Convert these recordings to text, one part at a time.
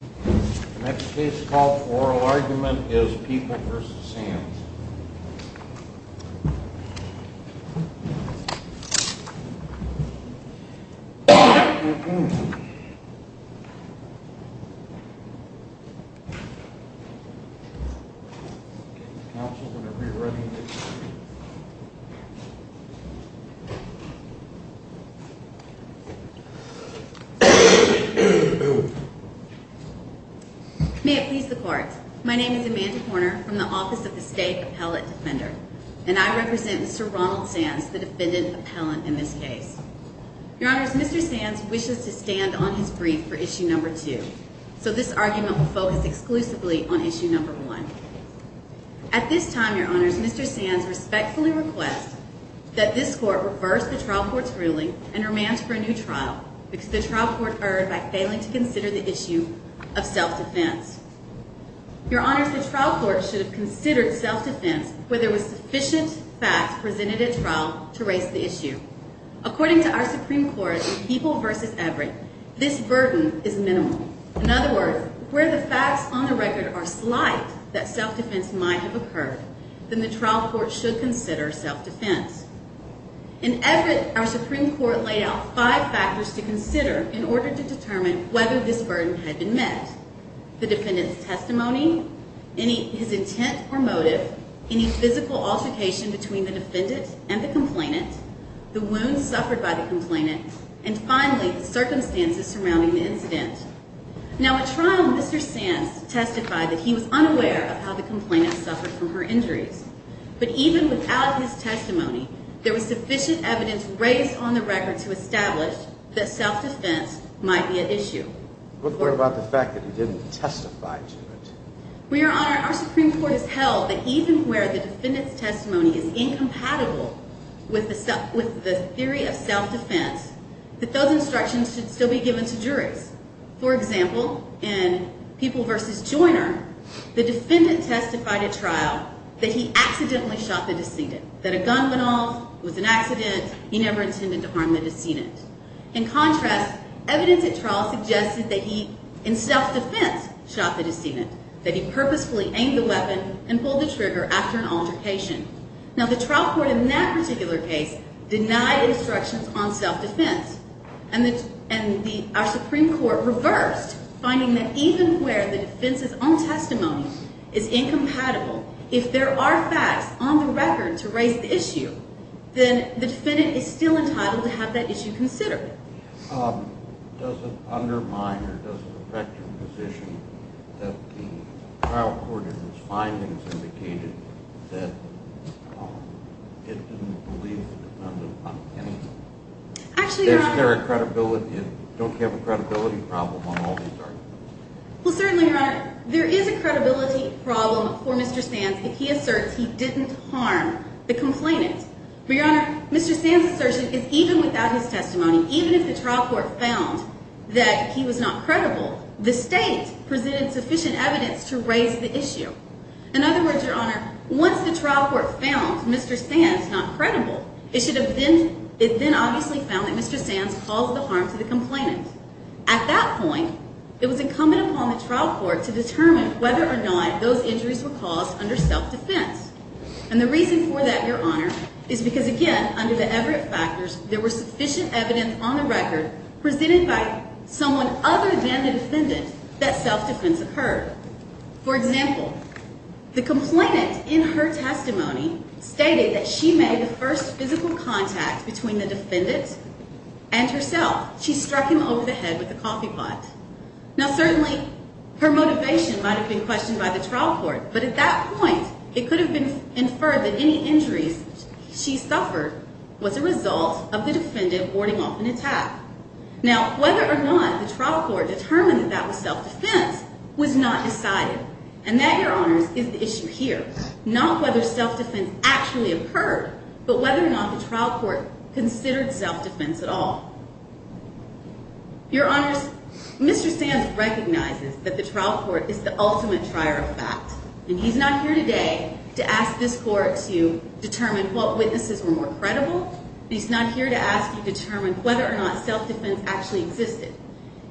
The next case called Oral Argument is People v. Sands May it please the Court. My name is Amanda Horner from the Office of the State Appellate Defender, and I represent Mr. Ronald Sands, the defendant appellant in this case. Your Honors, Mr. Sands wishes to stand on his brief for Issue No. 2, so this argument will focus exclusively on Issue No. 1. At this time, Your Honors, Mr. Sands respectfully requests that this Court reverse the trial court's ruling and remand for a new trial, because the trial court erred by failing to consider the issue of self-defense. Your Honors, the trial court should have considered self-defense where there was sufficient fact presented at trial to raise the issue. According to our Supreme Court, in People v. Everett, this burden is minimal. In other words, where the facts on the record are slight that self-defense might have occurred, then the trial court should consider self-defense. In Everett, our Supreme Court laid out five factors to consider in order to determine whether this burden had been met. The defendant's testimony, his intent or motive, any physical altercation between the defendant and the complainant, the wounds suffered by the complainant, and finally, the circumstances surrounding the incident. Now, at trial, Mr. Sands testified that he was unaware of how the complainant suffered from her injuries. But even without his testimony, there was sufficient evidence raised on the record to establish that self-defense might be an issue. What about the fact that he didn't testify to it? Your Honor, our Supreme Court has held that even where the defendant's testimony is incompatible with the theory of self-defense, that those instructions should still be given to juries. For example, in People v. Joiner, the defendant testified at trial that he accidentally shot the decedent, that a gun went off, it was an accident, he never intended to harm the decedent. In contrast, evidence at trial suggested that he, in self-defense, shot the decedent, that he purposefully aimed the weapon and pulled the trigger after an altercation. Now, the trial court in that particular case denied instructions on self-defense. And our Supreme Court reversed, finding that even where the defense's own testimony is incompatible, if there are facts on the record to raise the issue, then the defendant is still entitled to have that issue considered. Does it undermine or does it affect your position that the trial court in its findings indicated that it didn't believe the defendant? Don't you have a credibility problem on all these arguments? Well, certainly, Your Honor. There is a credibility problem for Mr. Sands if he asserts he didn't harm the complainant. But, Your Honor, Mr. Sands' assertion is even without his testimony, even if the trial court found that he was not credible, the state presented sufficient evidence to raise the issue. In other words, Your Honor, once the trial court found Mr. Sands not credible, it then obviously found that Mr. Sands caused the harm to the complainant. At that point, it was incumbent upon the trial court to determine whether or not those injuries were caused under self-defense. And the reason for that, Your Honor, is because, again, under the Everett factors, there was sufficient evidence on the record presented by someone other than the defendant that self-defense occurred. For example, the complainant in her testimony stated that she made the first physical contact between the defendant and herself. She struck him over the head with a coffee pot. Now, certainly, her motivation might have been questioned by the trial court, but at that point, it could have been inferred that any injuries she suffered was a result of the defendant warding off an attack. Now, whether or not the trial court determined that that was self-defense was not decided. And that, Your Honors, is the issue here. Not whether self-defense actually occurred, but whether or not the trial court considered self-defense at all. Your Honors, Mr. Sands recognizes that the trial court is the ultimate trier of fact. And he's not here today to ask this court to determine what witnesses were more credible. He's not here to ask you to determine whether or not self-defense actually existed.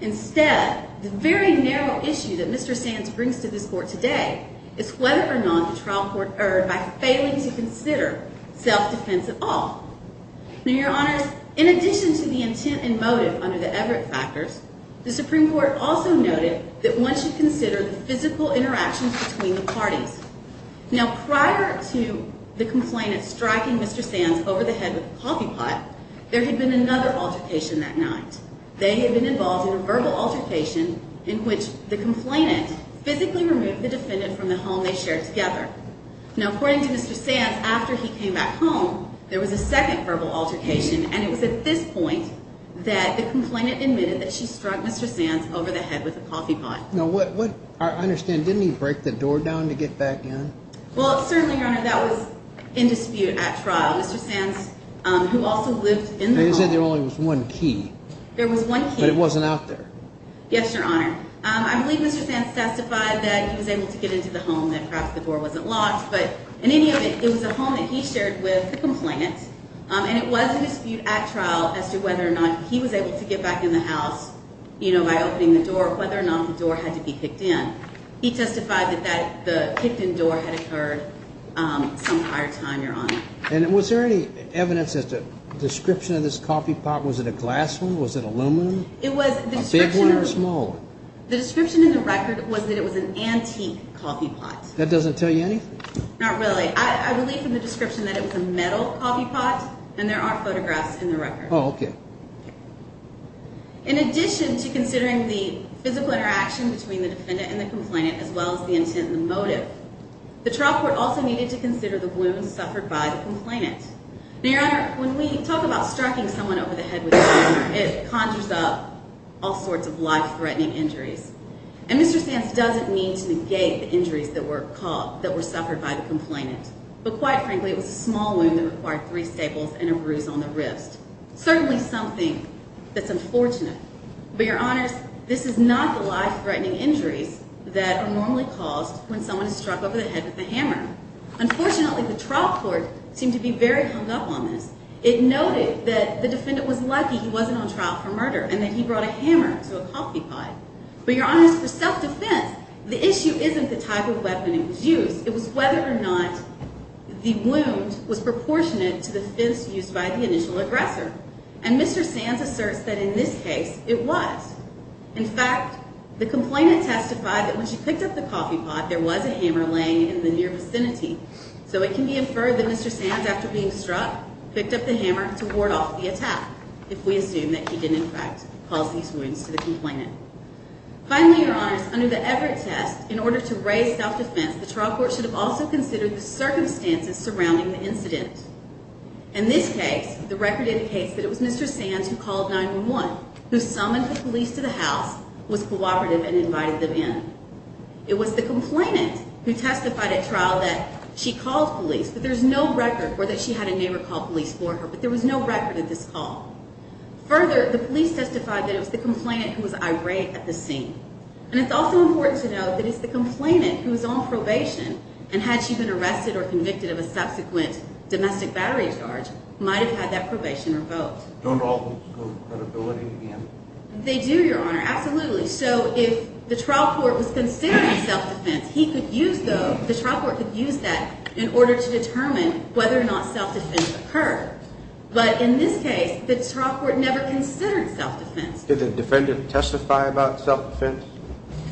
Instead, the very narrow issue that Mr. Sands brings to this court today is whether or not the trial court erred by failing to consider self-defense at all. Now, Your Honors, in addition to the intent and motive under the Everett factors, the Supreme Court also noted that one should consider the physical interactions between the parties. Now, prior to the complainant striking Mr. Sands over the head with a coffee pot, there had been another altercation that night. They had been involved in a verbal altercation in which the complainant physically removed the defendant from the home they shared together. Now, according to Mr. Sands, after he came back home, there was a second verbal altercation. And it was at this point that the complainant admitted that she struck Mr. Sands over the head with a coffee pot. Now, I understand, didn't he break the door down to get back in? Well, certainly, Your Honor, that was in dispute at trial. Mr. Sands, who also lived in the home. They said there only was one key. There was one key. But it wasn't out there. Yes, Your Honor. I believe Mr. Sands testified that he was able to get into the home, that perhaps the door wasn't locked. But in any event, it was a home that he shared with the complainant, and it was in dispute at trial as to whether or not he was able to get back in the house, you know, by opening the door, whether or not the door had to be kicked in. He testified that the kicked-in door had occurred some prior time, Your Honor. And was there any evidence as to the description of this coffee pot? Was it a glass one? Was it aluminum? It was. A big one or a small one? The description in the record was that it was an antique coffee pot. That doesn't tell you anything? Not really. I believe from the description that it was a metal coffee pot, and there are photographs in the record. Oh, okay. In addition to considering the physical interaction between the defendant and the complainant, as well as the intent and the motive, the trial court also needed to consider the wounds suffered by the complainant. Now, Your Honor, when we talk about striking someone over the head with a hammer, it conjures up all sorts of life-threatening injuries. And Mr. Sands doesn't mean to negate the injuries that were suffered by the complainant. But quite frankly, it was a small wound that required three staples and a bruise on the wrist. Certainly something that's unfortunate. But, Your Honors, this is not the life-threatening injuries that are normally caused when someone is struck over the head with a hammer. Unfortunately, the trial court seemed to be very hung up on this. It noted that the defendant was lucky he wasn't on trial for murder and that he brought a hammer to a coffee pot. But, Your Honors, for self-defense, the issue isn't the type of weapon it was used. It was whether or not the wound was proportionate to the fence used by the initial aggressor. And Mr. Sands asserts that in this case, it was. In fact, the complainant testified that when she picked up the coffee pot, there was a hammer laying in the near vicinity. So it can be inferred that Mr. Sands, after being struck, picked up the hammer to ward off the attack. If we assume that he didn't, in fact, cause these wounds to the complainant. Finally, Your Honors, under the Everett test, in order to raise self-defense, the trial court should have also considered the circumstances surrounding the incident. In this case, the record indicates that it was Mr. Sands who called 911, who summoned the police to the house, was cooperative, and invited them in. It was the complainant who testified at trial that she called police, but there's no record for that she had a neighbor call police for her. But there was no record of this call. Further, the police testified that it was the complainant who was irate at the scene. And it's also important to note that it's the complainant who was on probation, and had she been arrested or convicted of a subsequent domestic battery charge, might have had that probation revoked. Don't all these go to credibility again? They do, Your Honor, absolutely. So if the trial court was considering self-defense, the trial court could use that in order to determine whether or not self-defense occurred. But in this case, the trial court never considered self-defense. Did the defendant testify about self-defense?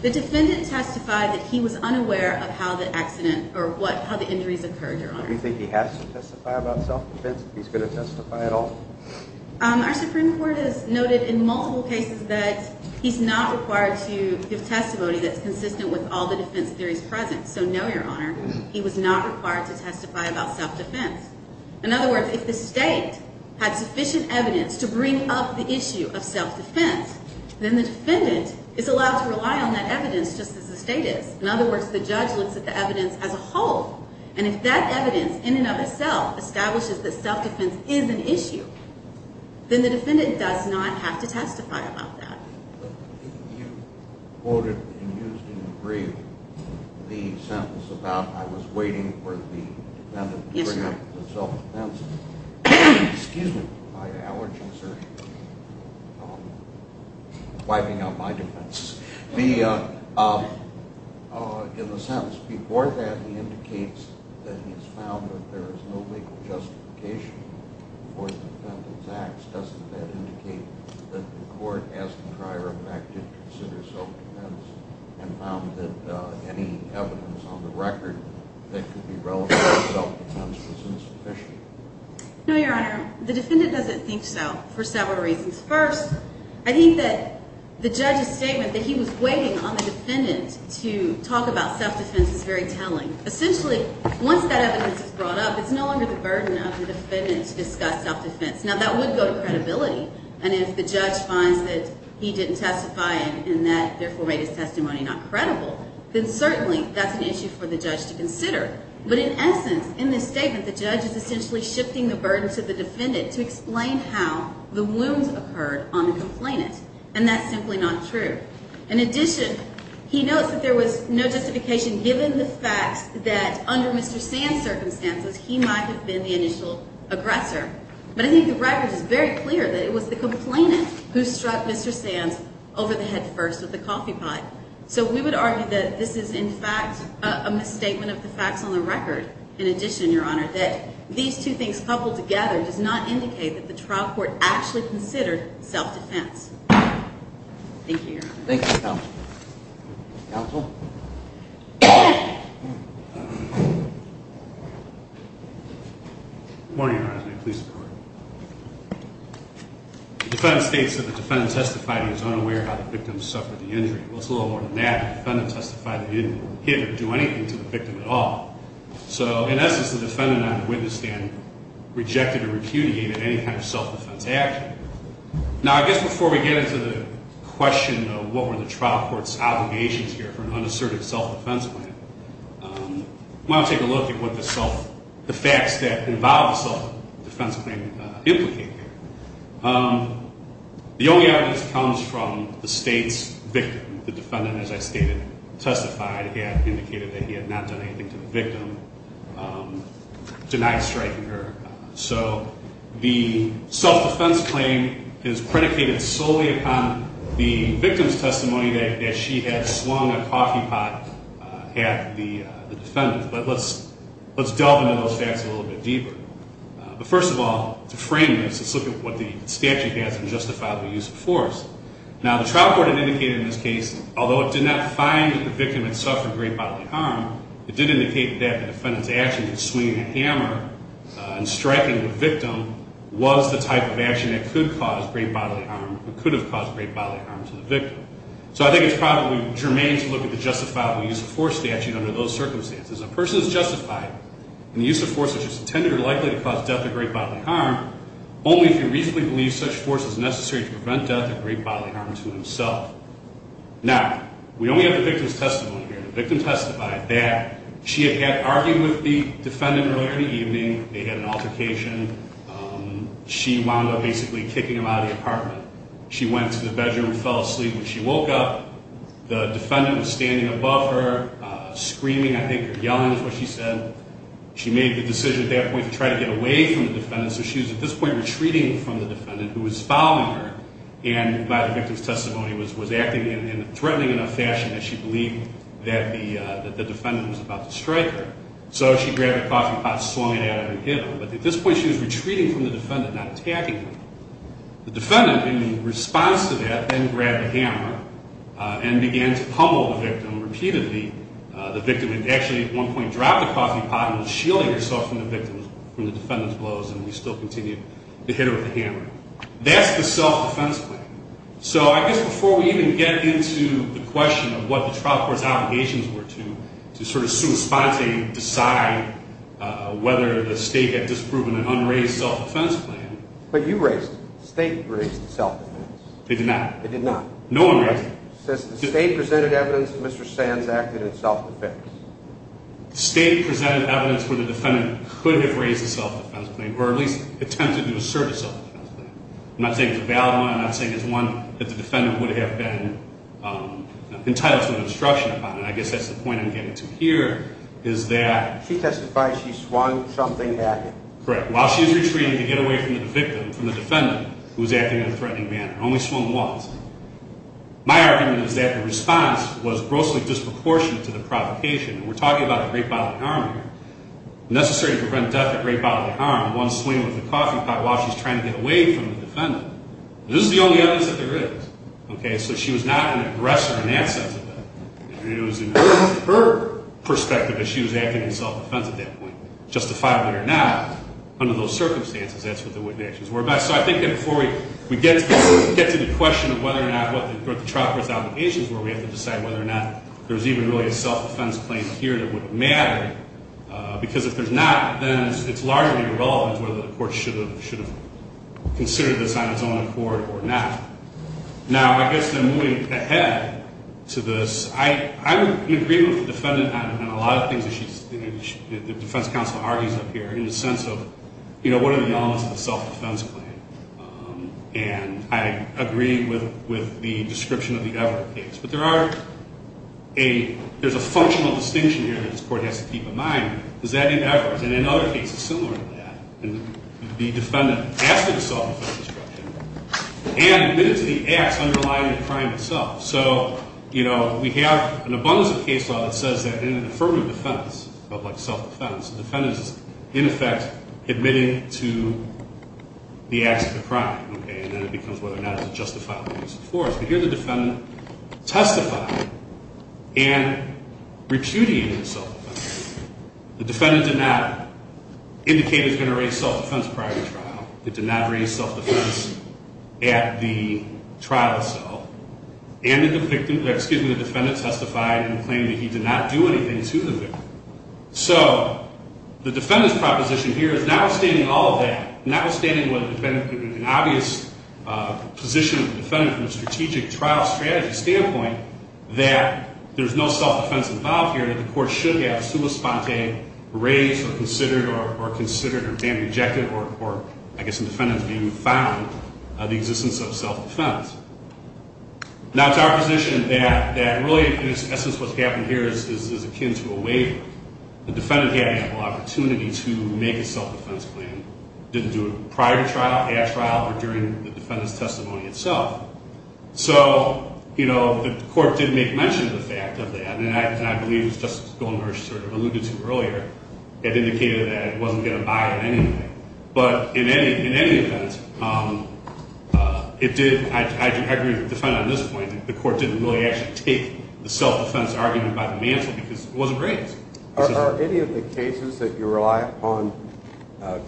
The defendant testified that he was unaware of how the injuries occurred, Your Honor. Do you think he has to testify about self-defense if he's going to testify at all? Our Supreme Court has noted in multiple cases that he's not required to give testimony that's consistent with all the defense theories present. So no, Your Honor, he was not required to testify about self-defense. In other words, if the state had sufficient evidence to bring up the issue of self-defense, then the defendant is allowed to rely on that evidence just as the state is. In other words, the judge looks at the evidence as a whole. And if that evidence in and of itself establishes that self-defense is an issue, then the defendant does not have to testify about that. You quoted and used in your brief the sentence about I was waiting for the defendant to bring up the self-defense. Excuse me, my allergies are wiping out my defenses. In the sentence before that, he indicates that he has found that there is no legal justification for the defendant's acts. Doesn't that indicate that the court, as in prior effect, did consider self-defense and found that any evidence on the record that could be relevant to self-defense was insufficient? No, Your Honor. The defendant doesn't think so for several reasons. First, I think that the judge's statement that he was waiting on the defendant to talk about self-defense is very telling. Essentially, once that evidence is brought up, it's no longer the burden of the defendant to discuss self-defense. Now, that would go to credibility. And if the judge finds that he didn't testify and that therefore made his testimony not credible, then certainly that's an issue for the judge to consider. But in essence, in this statement, the judge is essentially shifting the burden to the defendant to explain how the wounds occurred on the complainant. And that's simply not true. In addition, he notes that there was no justification given the fact that under Mr. Sand's circumstances, he might have been the initial aggressor. And I think the record is very clear that it was the complainant who struck Mr. Sand over the head first with the coffee pot. So we would argue that this is, in fact, a misstatement of the facts on the record. In addition, Your Honor, that these two things coupled together does not indicate that the trial court actually considered self-defense. Thank you, Your Honor. Thank you, counsel. Counsel? Good morning, Your Honor. May the police be with you. The defendant states that the defendant testified he was unaware how the victim suffered the injury. Well, it's a little more than that. The defendant testified that he didn't hit or do anything to the victim at all. So, in essence, the defendant on the witness stand rejected or repudiated any kind of self-defense action. Now, I guess before we get into the question of what were the trial court's obligations here for an unassertive self-defense plan, why don't we take a look at what the facts that involve a self-defense claim implicate here. The only evidence comes from the state's victim. The defendant, as I stated, testified and indicated that he had not done anything to the victim, denied striking her. So the self-defense claim is predicated solely upon the victim's testimony that she had swung a coffee pot at the defendant. But let's delve into those facts a little bit deeper. But first of all, to frame this, let's look at what the statute has to justify the use of force. Now, the trial court had indicated in this case, although it did not find that the victim had suffered great bodily harm, it did indicate that the defendant's action of swinging a hammer and striking the victim was the type of action that could have caused great bodily harm to the victim. So I think it's probably germane to look at the justifiable use of force statute under those circumstances. A person is justified in the use of force which is intended or likely to cause death or great bodily harm, only if you reasonably believe such force is necessary to prevent death or great bodily harm to himself. Now, we only have the victim's testimony here. The victim testified that she had argued with the defendant earlier in the evening. They had an altercation. She wound up basically kicking him out of the apartment. She went to the bedroom and fell asleep. When she woke up, the defendant was standing above her, screaming, I think, or yelling is what she said. She made the decision at that point to try to get away from the defendant. So she was at this point retreating from the defendant who was following her. And by the victim's testimony, was acting in a threatening enough fashion that she believed that the defendant was about to strike her. So she grabbed a coffee pot, swung it at her, and hit her. But at this point, she was retreating from the defendant, not attacking him. The defendant, in response to that, then grabbed a hammer and began to pummel the victim repeatedly. The victim had actually at one point dropped the coffee pot and was shielding herself from the defendant's blows, and he still continued to hit her with the hammer. That's the self-defense plan. So I guess before we even get into the question of what the trial court's obligations were to, to sort of sui sponte decide whether the state had disproven an unraised self-defense plan. But you raised it. The state raised the self-defense. They did not. They did not. No one raised it. It says the state presented evidence that Mr. Sands acted in self-defense. The state presented evidence where the defendant could have raised a self-defense plan, or at least attempted to assert a self-defense plan. I'm not saying it's a valid one. I'm not saying it's one that the defendant would have been entitled to an instruction upon. And I guess that's the point I'm getting to here is that… She testified she swung something at him. Correct. While she was retreating to get away from the victim, from the defendant, who was acting in a threatening manner, only swung once. My argument is that the response was grossly disproportionate to the provocation. We're talking about a great bodily harm here. Necessary to prevent death at great bodily harm, one swing with a coffee pot while she's trying to get away from the defendant. This is the only evidence that there is. Okay, so she was not an aggressor in that sense of it. It was in her perspective that she was acting in self-defense at that point. Justifiably or not, under those circumstances, that's what the witnesses were about. So I think that before we get to the question of whether or not what the trial court's obligations were, we have to decide whether or not there's even really a self-defense claim here that would matter. Because if there's not, then it's largely irrelevant whether the court should have considered this on its own accord or not. Now, I guess then moving ahead to this, I would agree with the defendant on a lot of things that the defense counsel argues up here, in the sense of, you know, what are the elements of a self-defense claim? And I agree with the description of the Everett case. There's a functional distinction here that this court has to keep in mind. Does that mean Everett? And in other cases similar to that, the defendant asked for the self-defense instruction and admitted to the acts underlying the crime itself. So, you know, we have an abundance of case law that says that in an affirmative defense, felt like self-defense, the defendant is, in effect, admitting to the acts of the crime. Okay, and then it becomes whether or not it's a justifiable use of force. But here the defendant testified and repudiated self-defense. The defendant did not indicate he was going to raise self-defense prior to trial. He did not raise self-defense at the trial itself. And the defendant testified and claimed that he did not do anything to the victim. So, the defendant's proposition here is notwithstanding all of that, notwithstanding whether the defendant, an obvious position of the defendant from a strategic trial strategy standpoint, that there's no self-defense involved here, that the court should have suba sponte raised or considered or bandaged or, I guess in the defendant's view, found the existence of self-defense. Now, it's our position that really, in essence, what's happened here is akin to a waiver. The defendant had ample opportunity to make a self-defense claim. Didn't do it prior to trial, at trial, or during the defendant's testimony itself. So, you know, the court did make mention of the fact of that. And I believe Justice Goldner sort of alluded to earlier. It indicated that it wasn't going to buy it anyway. But in any event, it did, I agree with the defendant on this point, the court didn't really actually take the self-defense argument by the mantle because it wasn't raised. Are any of the cases that you rely upon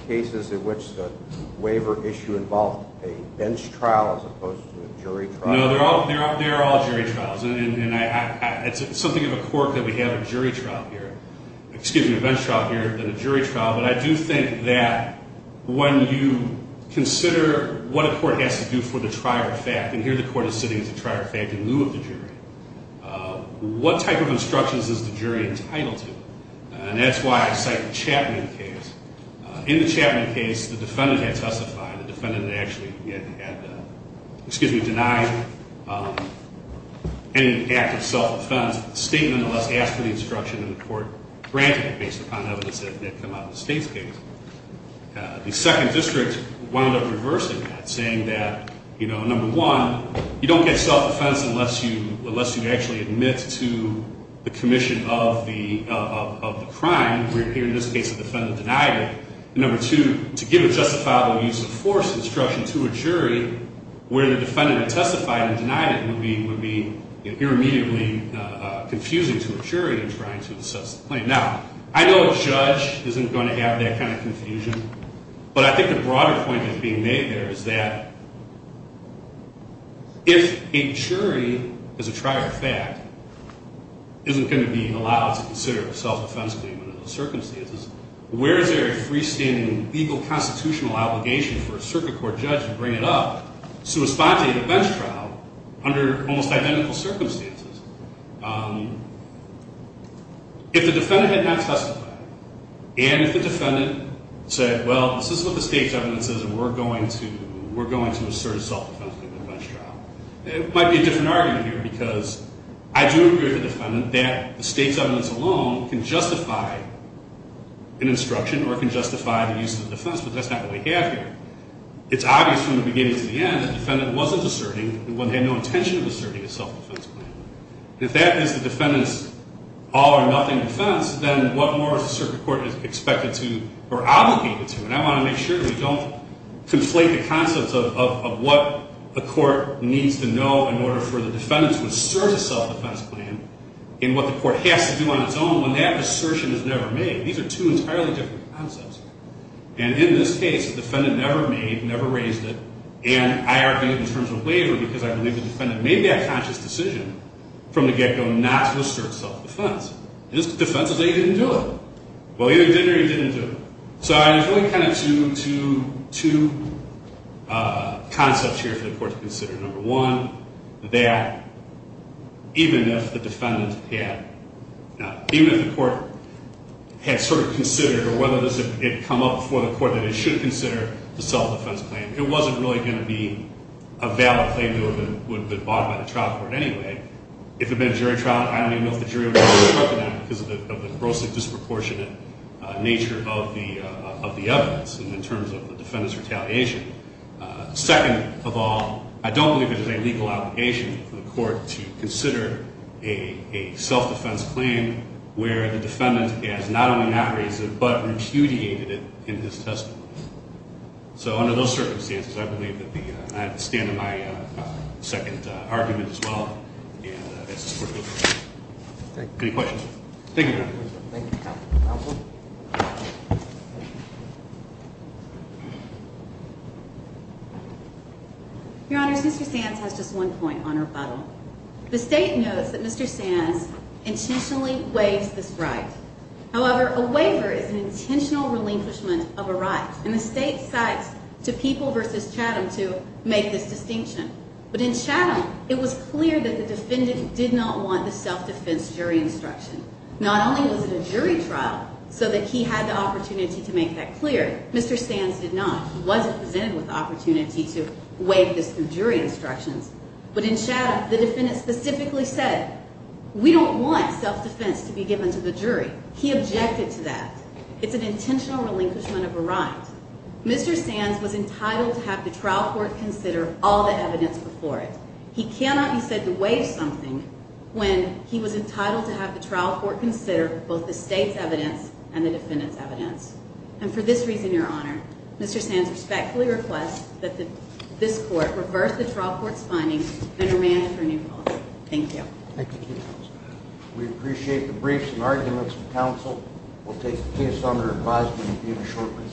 cases in which the waiver issue involved a bench trial as opposed to a jury trial? No, they're all jury trials. And it's something of a court that we have a jury trial here, excuse me, a bench trial here and a jury trial. But I do think that when you consider what a court has to do for the trier of fact, and here the court is sitting as a trier of fact in lieu of the jury, what type of instructions is the jury entitled to? And that's why I cite the Chapman case. In the Chapman case, the defendant had testified. The defendant had actually, excuse me, denied any act of self-defense. The state nonetheless asked for the instruction and the court granted it based upon evidence that had come out of the state's case. The second district wound up reversing that, saying that, you know, unless you actually admit to the commission of the crime, where in this case the defendant denied it. And number two, to give a justifiable use of force instruction to a jury where the defendant had testified and denied it would be, you know, immediately confusing to a jury in trying to assess the claim. Now, I know a judge isn't going to have that kind of confusion, but I think the broader point that's being made there is that if a jury is a trier of fact, isn't going to be allowed to consider a self-defense claim under those circumstances, where is there a freestanding legal constitutional obligation for a circuit court judge to bring it up to respond to a defense trial under almost identical circumstances? If the defendant had not testified, and if the defendant said, well, this is what the state's evidence is, and we're going to assert a self-defense claim in a defense trial, it might be a different argument here, because I do agree with the defendant that the state's evidence alone can justify an instruction or can justify the use of the defense, but that's not what we have here. It's obvious from the beginning to the end that the defendant wasn't asserting, and they had no intention of asserting a self-defense claim. If that is the defendant's all-or-nothing defense, then what more is the circuit court expected to or obligated to? And I want to make sure that we don't conflate the concepts of what a court needs to know in order for the defendant to assert a self-defense claim in what the court has to do on its own, when that assertion is never made. These are two entirely different concepts. And in this case, the defendant never made, never raised it, and I argued in terms of waiver because I believe the defendant made that conscious decision from the get-go not to assert self-defense. And this defense is that he didn't do it. Well, either he did or he didn't do it. So there's really kind of two concepts here for the court to consider. Number one, that even if the defendant had, even if the court had sort of considered, or whether it had come up before the court that it should consider the self-defense claim, it wasn't really going to be a valid claim that would have been brought by the trial court anyway. If it had been a jury trial, I don't even know if the jury would have consulted on it because of the grossly disproportionate nature of the evidence in terms of the defendant's retaliation. Second of all, I don't believe there's a legal obligation for the court to consider a self-defense claim where the defendant has not only not raised it, but repudiated it in his testimony. So under those circumstances, I believe that the, and I stand in my second argument as well, Any questions? Thank you, Your Honor. Thank you, Counsel. Your Honors, Mr. Sands has just one point on rebuttal. The State knows that Mr. Sands intentionally waives this right. However, a waiver is an intentional relinquishment of a right. And the State cites to People v. Chatham to make this distinction. But in Chatham, it was clear that the defendant did not want the self-defense jury instruction. Nor was it a jury trial, so that he had the opportunity to make that clear. Mr. Sands did not. He wasn't presented with the opportunity to waive this through jury instructions. But in Chatham, the defendant specifically said, we don't want self-defense to be given to the jury. He objected to that. It's an intentional relinquishment of a right. Mr. Sands was entitled to have the trial court consider all the evidence before it. He cannot be said to waive something when he was entitled to have the trial court consider both the State's evidence and the defendant's evidence. And for this reason, Your Honor, Mr. Sands respectfully requests that this court reverse the trial court's findings and remand it for a new policy. Thank you. We appreciate the briefs and arguments from counsel. We'll take the case under advisory review shortly.